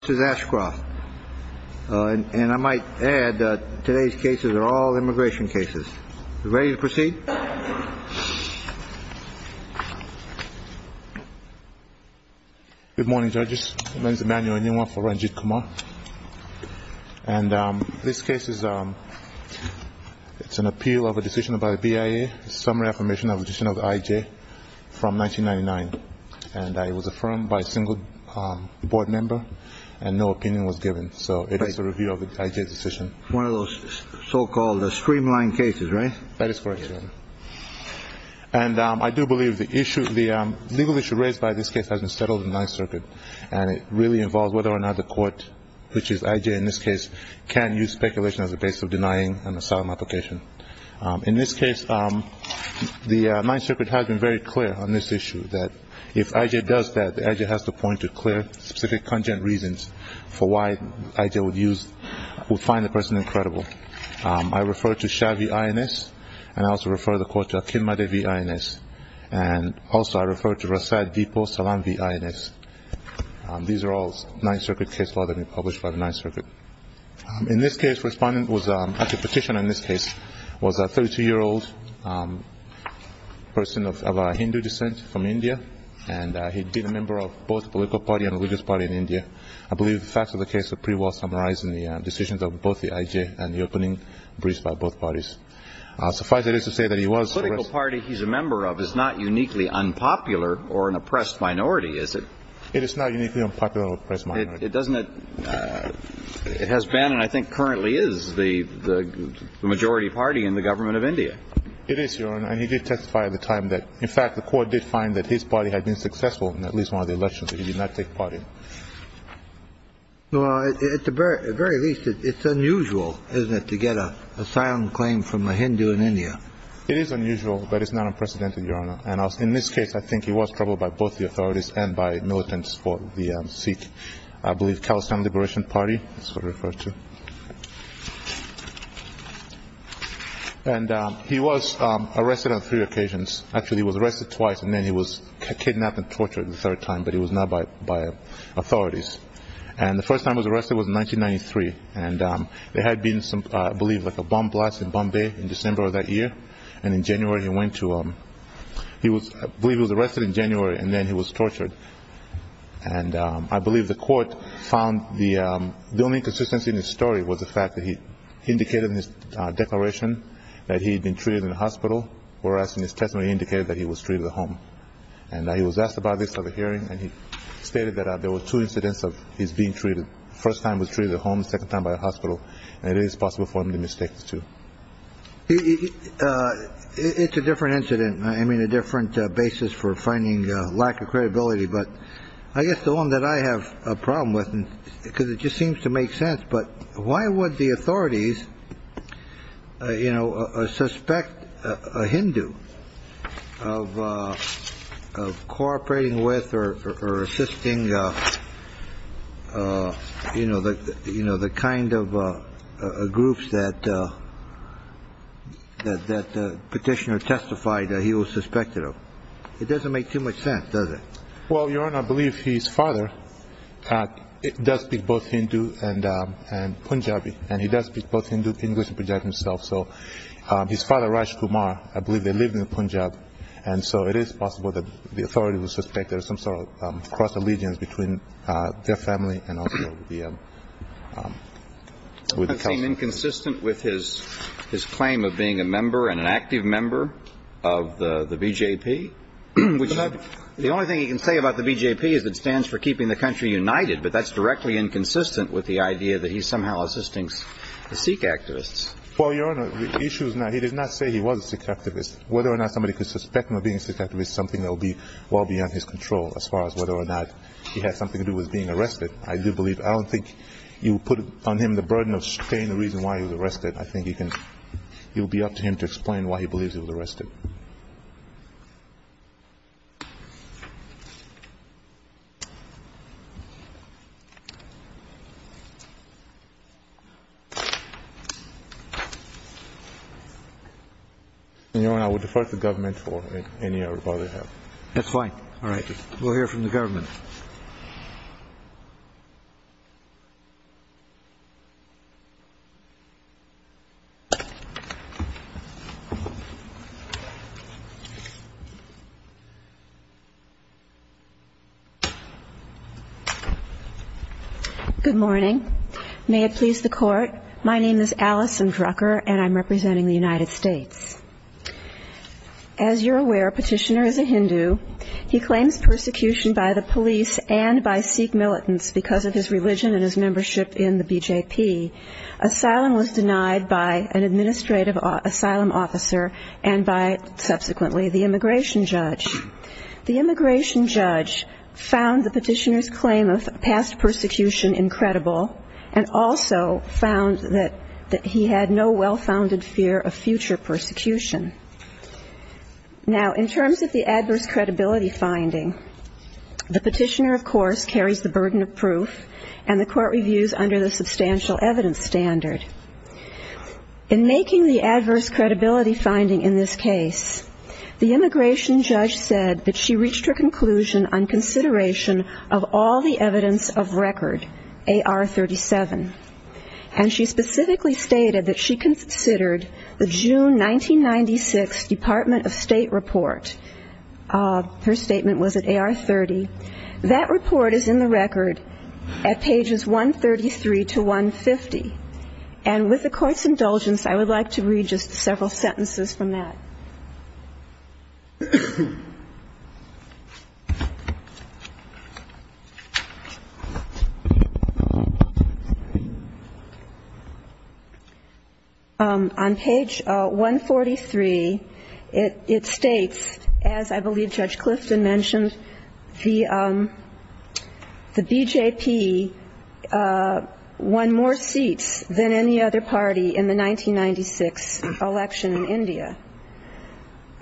This is Ashcroft. And I might add that today's cases are all immigration cases. Are we ready to proceed? Good morning, judges. My name is Emanuel Inouye for Ranjit Kumar. And this case is an appeal of a decision by the BIA, a summary affirmation of a decision of the IJ from 1999. And it was affirmed by a single board member and no opinion was given. So it is a review of the IJ decision. One of those so-called streamlined cases, right? That is correct, Your Honor. And I do believe the legal issue raised by this case has been settled in the Ninth Circuit. And it really involves whether or not the court, which is IJ in this case, can use speculation as a basis of denying an asylum application. In this case, the Ninth Circuit has been very clear on this issue, that if IJ does that, the IJ has to point to clear, specific, congenial reasons for why IJ would find the person incredible. I refer to Shah v. INS, and I also refer the court to Akinmade v. INS. And also I refer to Rasad v. Salam v. INS. These are all Ninth Circuit cases that have been published by the Ninth Circuit. In this case, the respondent was a petitioner in this case, was a 32-year-old person of Hindu descent from India, and he'd been a member of both the political party and religious party in India. I believe the facts of the case are pretty well summarized in the decisions of both the IJ and the opening briefs by both parties. Suffice it is to say that he was oppressed. The political party he's a member of is not uniquely unpopular or an oppressed minority, is it? It is not uniquely unpopular or an oppressed minority. It has been and I think currently is the majority party in the government of India. It is, Your Honor, and he did testify at the time that, in fact, the court did find that his party had been successful in at least one of the elections, but he did not take part in it. Well, at the very least, it's unusual, isn't it, to get a silent claim from a Hindu in India. It is unusual, but it's not unprecedented, Your Honor. And in this case, I think he was troubled by both the authorities and by militants for the Sikh, I believe, Khalistan Liberation Party, that's what it refers to. And he was arrested on three occasions. Actually, he was arrested twice, and then he was kidnapped and tortured the third time, but it was not by authorities. And the first time he was arrested was in 1993, and there had been, I believe, like a bomb blast in Bombay in December of that year, and in January he went to, I believe he was arrested in January, and then he was tortured. And I believe the court found the only consistency in his story was the fact that he indicated in his declaration that he had been treated in a hospital, whereas in his testimony he indicated that he was treated at home. And he was asked about this at the hearing, and he stated that there were two incidents of his being treated. The first time he was treated at home, the second time by a hospital, and it is possible for him to mistake the two. It's a different incident. I mean, a different basis for finding lack of credibility. But I guess the one that I have a problem with, because it just seems to make sense. But why would the authorities suspect a Hindu of cooperating with or assisting the kind of groups that Petitioner testified he was suspected of? It doesn't make too much sense, does it? Well, Your Honor, I believe his father does speak both Hindu and Punjabi, and he does speak both Hindu English and Punjabi himself. So his father, Raj Kumar, I believe they lived in Punjab. And so it is possible that the authorities would suspect there is some sort of cross-allegiance between their family and also the council. Does that seem inconsistent with his claim of being a member and an active member of the BJP? The only thing he can say about the BJP is it stands for keeping the country united, but that's directly inconsistent with the idea that he's somehow assisting the Sikh activists. Well, Your Honor, the issue is not – he did not say he was a Sikh activist. Whether or not somebody could suspect him of being a Sikh activist is something that would be well beyond his control, as far as whether or not he had something to do with being arrested. I do believe – I don't think you would put on him the burden of stating the reason why he was arrested. I think you can – it would be up to him to explain why he believes he was arrested. Your Honor, I would defer to the government for any further help. That's fine. All right. We'll hear from the government. Good morning. May it please the Court. My name is Allison Drucker, and I'm representing the United States. As you're aware, Petitioner is a Hindu. He claims persecution by the police and by Sikh militants because of his religion and his membership in the BJP. Asylum was denied by an administrative asylum officer and by, subsequently, the immigration judge. The immigration judge found the Petitioner's claim of past persecution incredible and also found that he had no well-founded fear of future persecution. Now, in terms of the adverse credibility finding, the Petitioner, of course, carries the burden of proof and the Court reviews under the substantial evidence standard. In making the adverse credibility finding in this case, the immigration judge said that she reached her conclusion on consideration of all the evidence of record, AR-37. And she specifically stated that she considered the June 1996 Department of State report. Her statement was at AR-30. That report is in the record at pages 133 to 150. And with the Court's indulgence, I would like to read just several sentences from that. On page 143, it states, as I believe Judge Clifton mentioned, the BJP won more seats than the Sikh militants. The BJP won more seats than any other party in the 1996 election in India.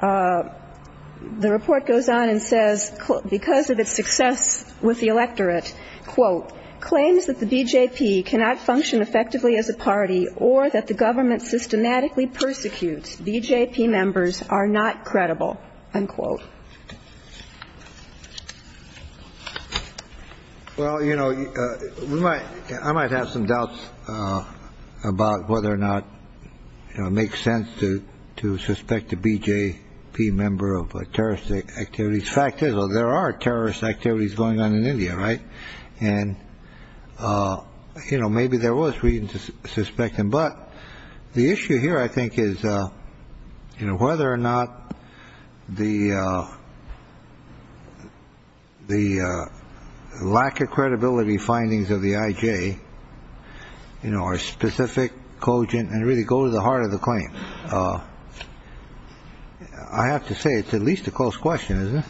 The report goes on and says, because of its success with the electorate, quote, claims that the BJP cannot function effectively as a party or that the government systematically persecutes BJP members are not credible, unquote. Well, you know, we might I might have some doubts about whether or not it makes sense to to suspect a BJP member of terrorist activities. Fact is, though, there are terrorist activities going on in India. Right. And, you know, maybe there was reason to suspect him. But the issue here, I think, is whether or not the the lack of credibility findings of the IJ are specific, cogent, and really go to the heart of the claim. I have to say it's at least a close question, isn't it?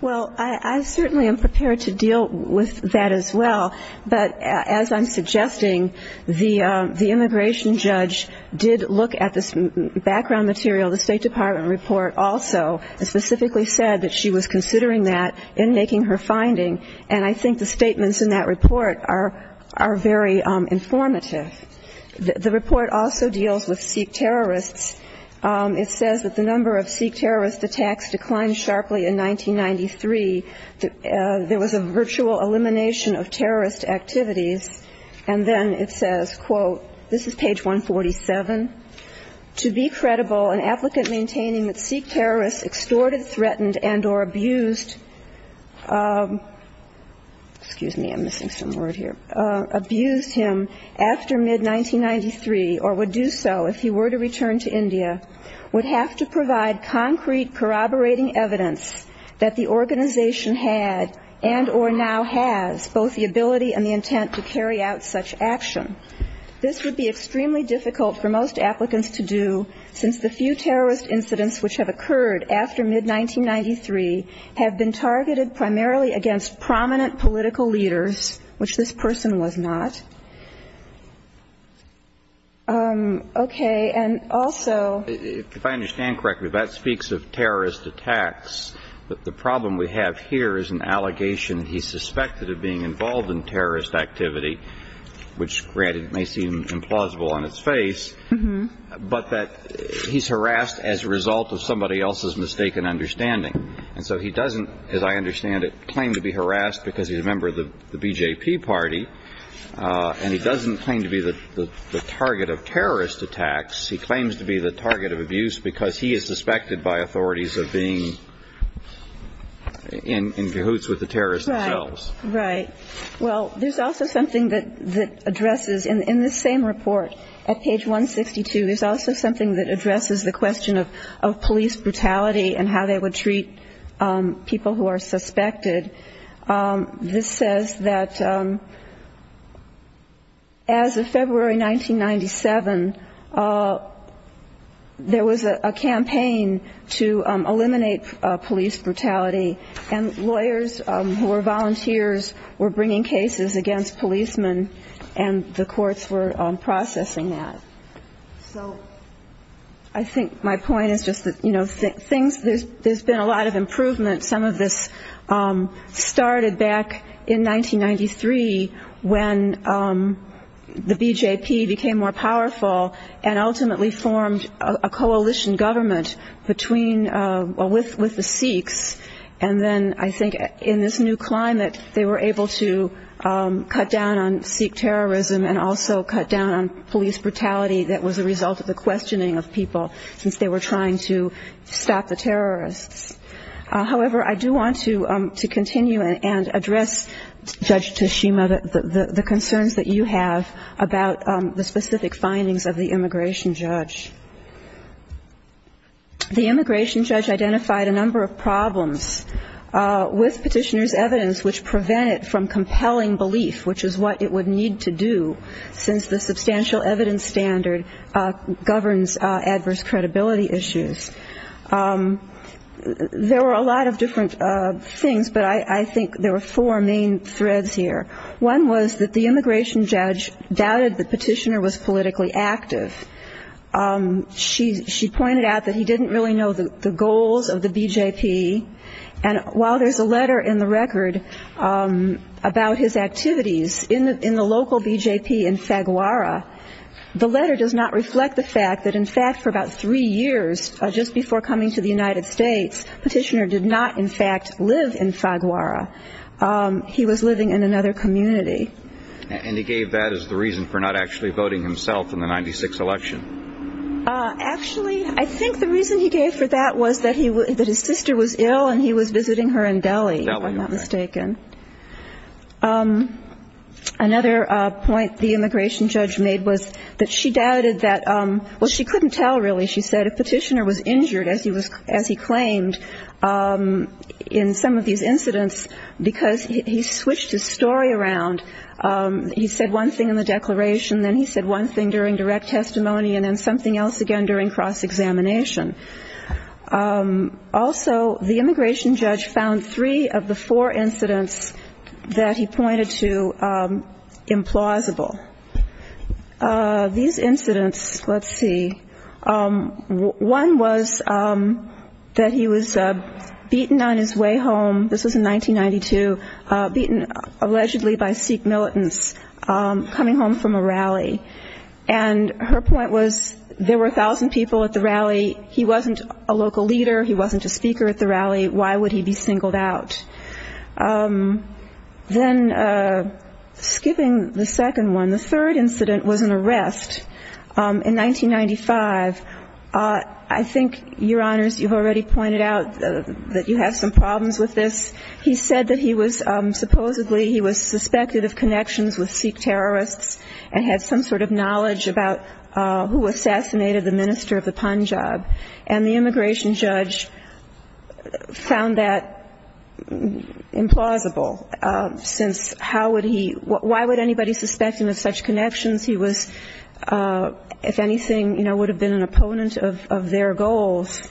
Well, I certainly am prepared to deal with that as well. But as I'm suggesting, the the immigration judge did look at this background material. The State Department report also specifically said that she was considering that in making her finding. And I think the statements in that report are are very informative. The report also deals with Sikh terrorists. It says that the number of Sikh terrorist attacks declined sharply in 1993. There was a virtual elimination of terrorist activities. And then it says, quote, this is page 147. To be credible, an applicant maintaining that Sikh terrorists extorted, threatened and or abused, excuse me, I'm missing some word here, abused him after mid-1993, or would do so if he were to return to India, would have to provide concrete corroborating evidence that the organization had and or now has both the ability and the intent to carry out such action. This would be extremely difficult for most applicants to do, since the few terrorist incidents which have occurred after mid-1993 have been targeted primarily against prominent political leaders, which this person was not. Okay. And also. If I understand correctly, that speaks of terrorist attacks. But the problem we have here is an allegation he suspected of being involved in terrorist activity, which, granted, may seem implausible on its face, but that he's harassed as a result of somebody else's mistaken understanding. And so he doesn't, as I understand it, claim to be harassed because he's a member of the BJP party, and he doesn't claim to be the target of terrorist attacks. He claims to be the target of abuse because he is suspected by authorities of being in cahoots with the terrorists themselves. Right. Right. Well, there's also something that addresses, in this same report at page 162, there's also something that addresses the question of police brutality and how they would treat people who are suspected. This says that as of February 1997, there was a campaign to eliminate police brutality, and lawyers who were volunteers were bringing cases against policemen, and the courts were processing that. So I think my point is just that, you know, there's been a lot of improvement. Some of this started back in 1993 when the BJP became more powerful and ultimately formed a coalition government with the Sikhs. And then I think in this new climate, they were able to cut down on Sikh terrorism and also cut down on police brutality that was a result of the questioning of people, since they were trying to stop the terrorists. However, I do want to continue and address, Judge Tashima, the concerns that you have about the specific findings of the immigration judge. The immigration judge identified a number of problems with Petitioner's evidence which prevent it from compelling belief, which is what it would need to do, since the substantial evidence standard governs adverse credibility issues. There were a lot of different things, but I think there were four main threads here. One was that the immigration judge doubted that Petitioner was politically active. She pointed out that he didn't really know the goals of the BJP. And while there's a letter in the record about his activities in the local BJP in Faguara, the letter does not reflect the fact that, in fact, for about three years, just before coming to the United States, Petitioner did not, in fact, live in Faguara. He was living in another community. And he gave that as the reason for not actually voting himself in the 1996 election. Actually, I think the reason he gave for that was that his sister was ill and he was visiting her in Delhi, if I'm not mistaken. Another point the immigration judge made was that she doubted that – well, she couldn't tell, really. She said if Petitioner was injured, as he claimed, in some of these incidents, because he switched his story around. He said one thing in the declaration, then he said one thing during direct testimony, and then something else again during cross-examination. Also, the immigration judge found three of the four incidents that he pointed to implausible. These incidents, let's see, one was that he was beaten on his way home. This was in 1992, beaten allegedly by Sikh militants coming home from a rally. And her point was there were 1,000 people at the rally. He wasn't a local leader. He wasn't a speaker at the rally. Why would he be singled out? Then skipping the second one, the third incident was an arrest in 1995. I think, Your Honors, you've already pointed out that you have some problems with this. He said that he was – supposedly he was suspected of connections with Sikh terrorists and had some sort of knowledge about who assassinated the minister of the Punjab. And the immigration judge found that implausible, since how would he – why would anybody suspect him of such connections? He was, if anything, would have been an opponent of their goals.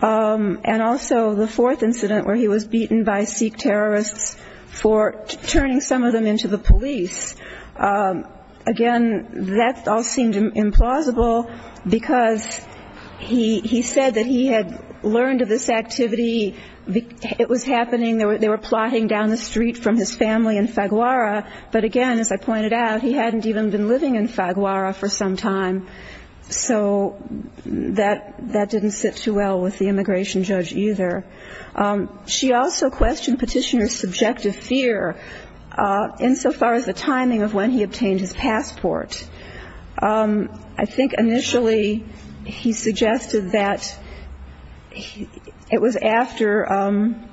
And also the fourth incident where he was beaten by Sikh terrorists for turning some of them into the police. Again, that all seemed implausible because he said that he had learned of this activity. It was happening. They were plotting down the street from his family in Faguara. But again, as I pointed out, he hadn't even been living in Faguara for some time. So that didn't sit too well with the immigration judge either. She also questioned Petitioner's subjective fear insofar as the timing of when he obtained his passport. I think initially he suggested that it was after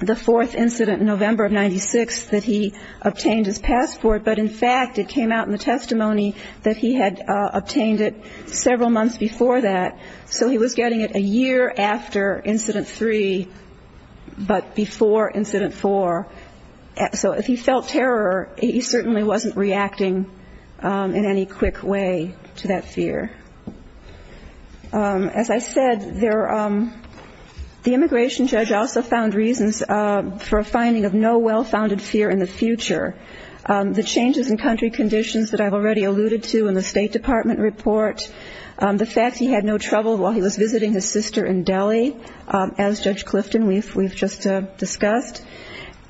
the fourth incident in November of 1996 that he obtained his passport. But, in fact, it came out in the testimony that he had obtained it several months before that. So he was getting it a year after Incident 3 but before Incident 4. So if he felt terror, he certainly wasn't reacting in any quick way to that fear. As I said, the immigration judge also found reasons for a finding of no well-founded fear in the future. The changes in country conditions that I've already alluded to in the State Department report, the fact he had no trouble while he was visiting his sister in Delhi, as Judge Clifton, we've just discussed,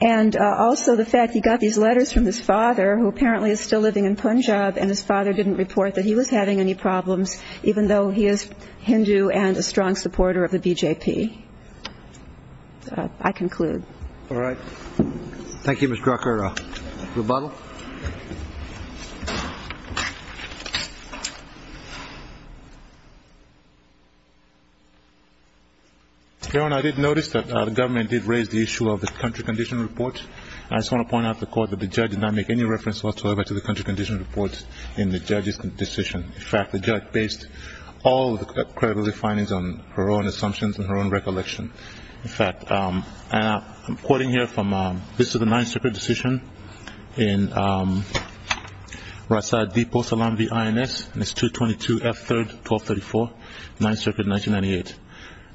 and also the fact he got these letters from his father, who apparently is still living in Punjab, and his father didn't report that he was having any problems even though he is Hindu and a strong supporter of the BJP. I conclude. All right. Thank you, Ms. Drucker. Rebuttal? Your Honor, I did notice that the government did raise the issue of the country condition report. I just want to point out to the Court that the judge did not make any reference whatsoever to the country condition report in the judge's decision. In fact, the judge based all of the credibility findings on her own assumptions and her own recollection. In fact, I'm quoting here from, this is a nine-separate decision in Rasad Deepo Salam v. INS, and it's 222F3-1234, 9th Circuit, 1998.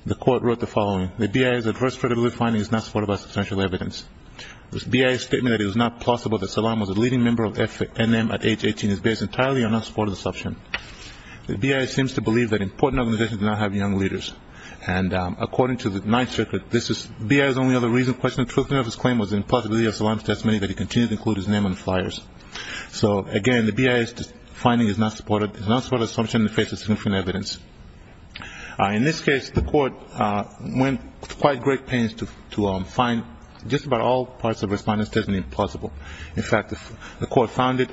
The Court wrote the following. The BIA's adverse credibility finding is not supported by substantial evidence. The BIA's statement that it was not plausible that Salam was a leading member of FNM at age 18 is based entirely on unsupported assumption. The BIA seems to believe that important organizations do not have young leaders, and according to the 9th Circuit, the BIA's only other reason for questioning the truthfulness of his claim was the impossibility of Salam's testimony that he continued to include his name on flyers. So, again, the BIA's finding is not supported. It's not supported assumption that faces significant evidence. In this case, the Court went to quite great pains to find just about all parts of the respondent's testimony plausible. In fact, the Court found it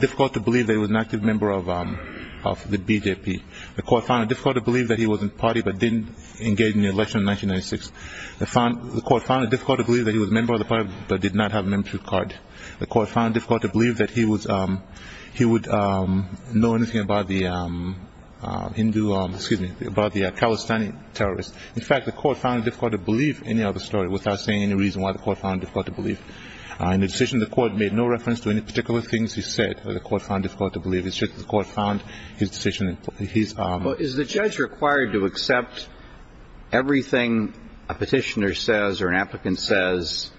difficult to believe that he was an active member of the BJP. The Court found it difficult to believe that he was in a party but didn't engage in the election in 1996. The Court found it difficult to believe that he was a member of the party but did not have a membership card. The Court found it difficult to believe that he would know anything about the Hindu ‑‑ excuse me, about the Palestinian terrorists. In fact, the Court found it difficult to believe any other story without saying any reason why the Court found it difficult to believe. In the decision, the Court made no reference to any particular things he said that the Court found difficult to believe. It's just that the Court found his decision, his ‑‑ Well, is the judge required to accept everything a petitioner says or an applicant says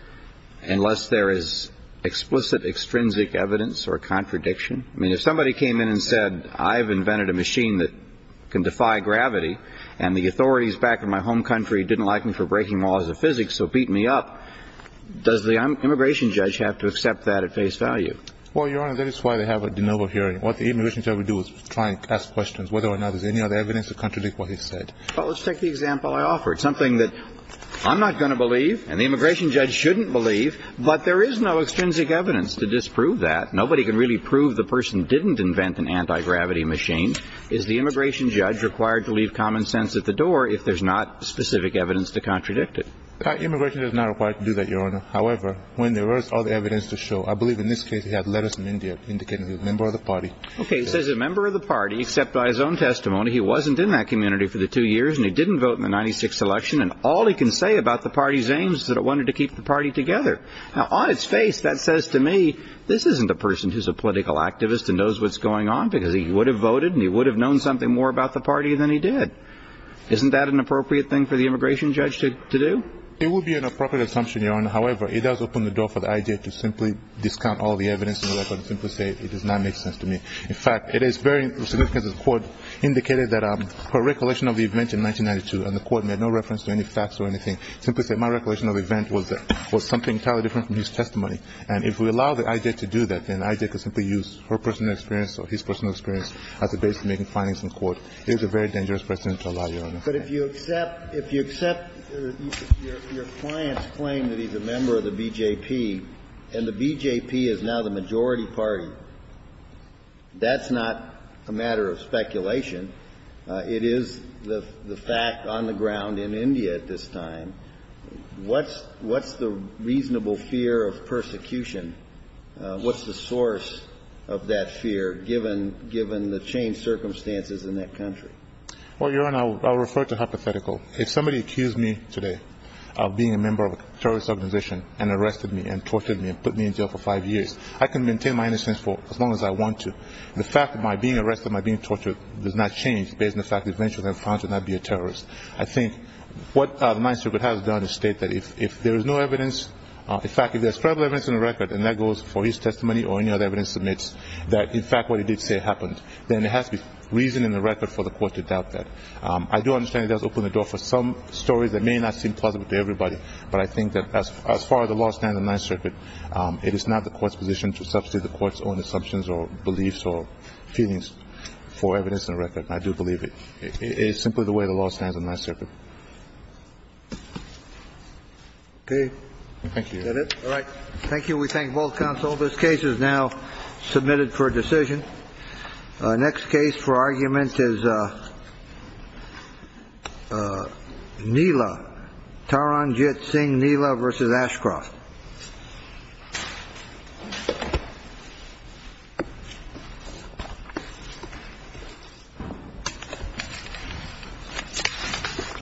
unless there is explicit, extrinsic evidence or contradiction? I mean, if somebody came in and said, I've invented a machine that can defy gravity, and the authorities back in my home country didn't like me for breaking laws of physics so beat me up, does the immigration judge have to accept that at face value? Well, Your Honor, that is why they have a de novo hearing. What the immigration judge will do is try and ask questions whether or not there's any other evidence to contradict what he said. Well, let's take the example I offered, something that I'm not going to believe and the immigration judge shouldn't believe, but there is no extrinsic evidence to disprove that. Nobody can really prove the person didn't invent an anti‑gravity machine. Is the immigration judge required to leave common sense at the door if there's not specific evidence to contradict it? In fact, the immigration judge is not required to do that, Your Honor. However, when there is other evidence to show, I believe in this case he had letters from India indicating he's a member of the party. Okay, he says he's a member of the party, except by his own testimony he wasn't in that community for the two years and he didn't vote in the 96th election, and all he can say about the party's aims is that it wanted to keep the party together. Now, on its face, that says to me this isn't a person who's a political activist and knows what's going on because he would have voted and he would have known something more about the party than he did. Isn't that an appropriate thing for the immigration judge to do? It would be an appropriate assumption, Your Honor. However, it does open the door for the I.J. to simply discount all the evidence in the record and simply say it does not make sense to me. In fact, it is very significant that the Court indicated that her recollection of the event in 1992, and the Court made no reference to any facts or anything, simply said my recollection of the event was something entirely different from his testimony. And if we allow the I.J. to do that, then I.J. could simply use her personal experience or his personal experience as a basis for making findings in court. It is a very dangerous precedent to allow, Your Honor. But if you accept your client's claim that he's a member of the BJP, and the BJP is now the majority party, that's not a matter of speculation. It is the fact on the ground in India at this time. What's the reasonable fear of persecution? What's the source of that fear, given the changed circumstances in that country? Well, Your Honor, I'll refer to hypothetical. If somebody accused me today of being a member of a terrorist organization and arrested me and tortured me and put me in jail for five years, I can maintain my innocence for as long as I want to. The fact that my being arrested, my being tortured does not change based on the fact that eventually I'm found to not be a terrorist. I think what the Ninth Circuit has done is state that if there is no evidence, in fact, if there's credible evidence in the record, and that goes for his testimony or any other evidence that admits that in fact what he did say happened, then there has to be reason in the record for the court to doubt that. I do understand it does open the door for some stories that may not seem plausible to everybody, but I think that as far as the law stands in the Ninth Circuit, it is not the court's position to substitute the court's own assumptions or beliefs or feelings for evidence in the record. I do believe it is simply the way the law stands in the Ninth Circuit. Okay. Thank you. Is that it? All right. Thank you. We thank both counsel. This case is now submitted for decision. Next case for argument is Nila, Taran Jit Singh Nila v. Ashcroft.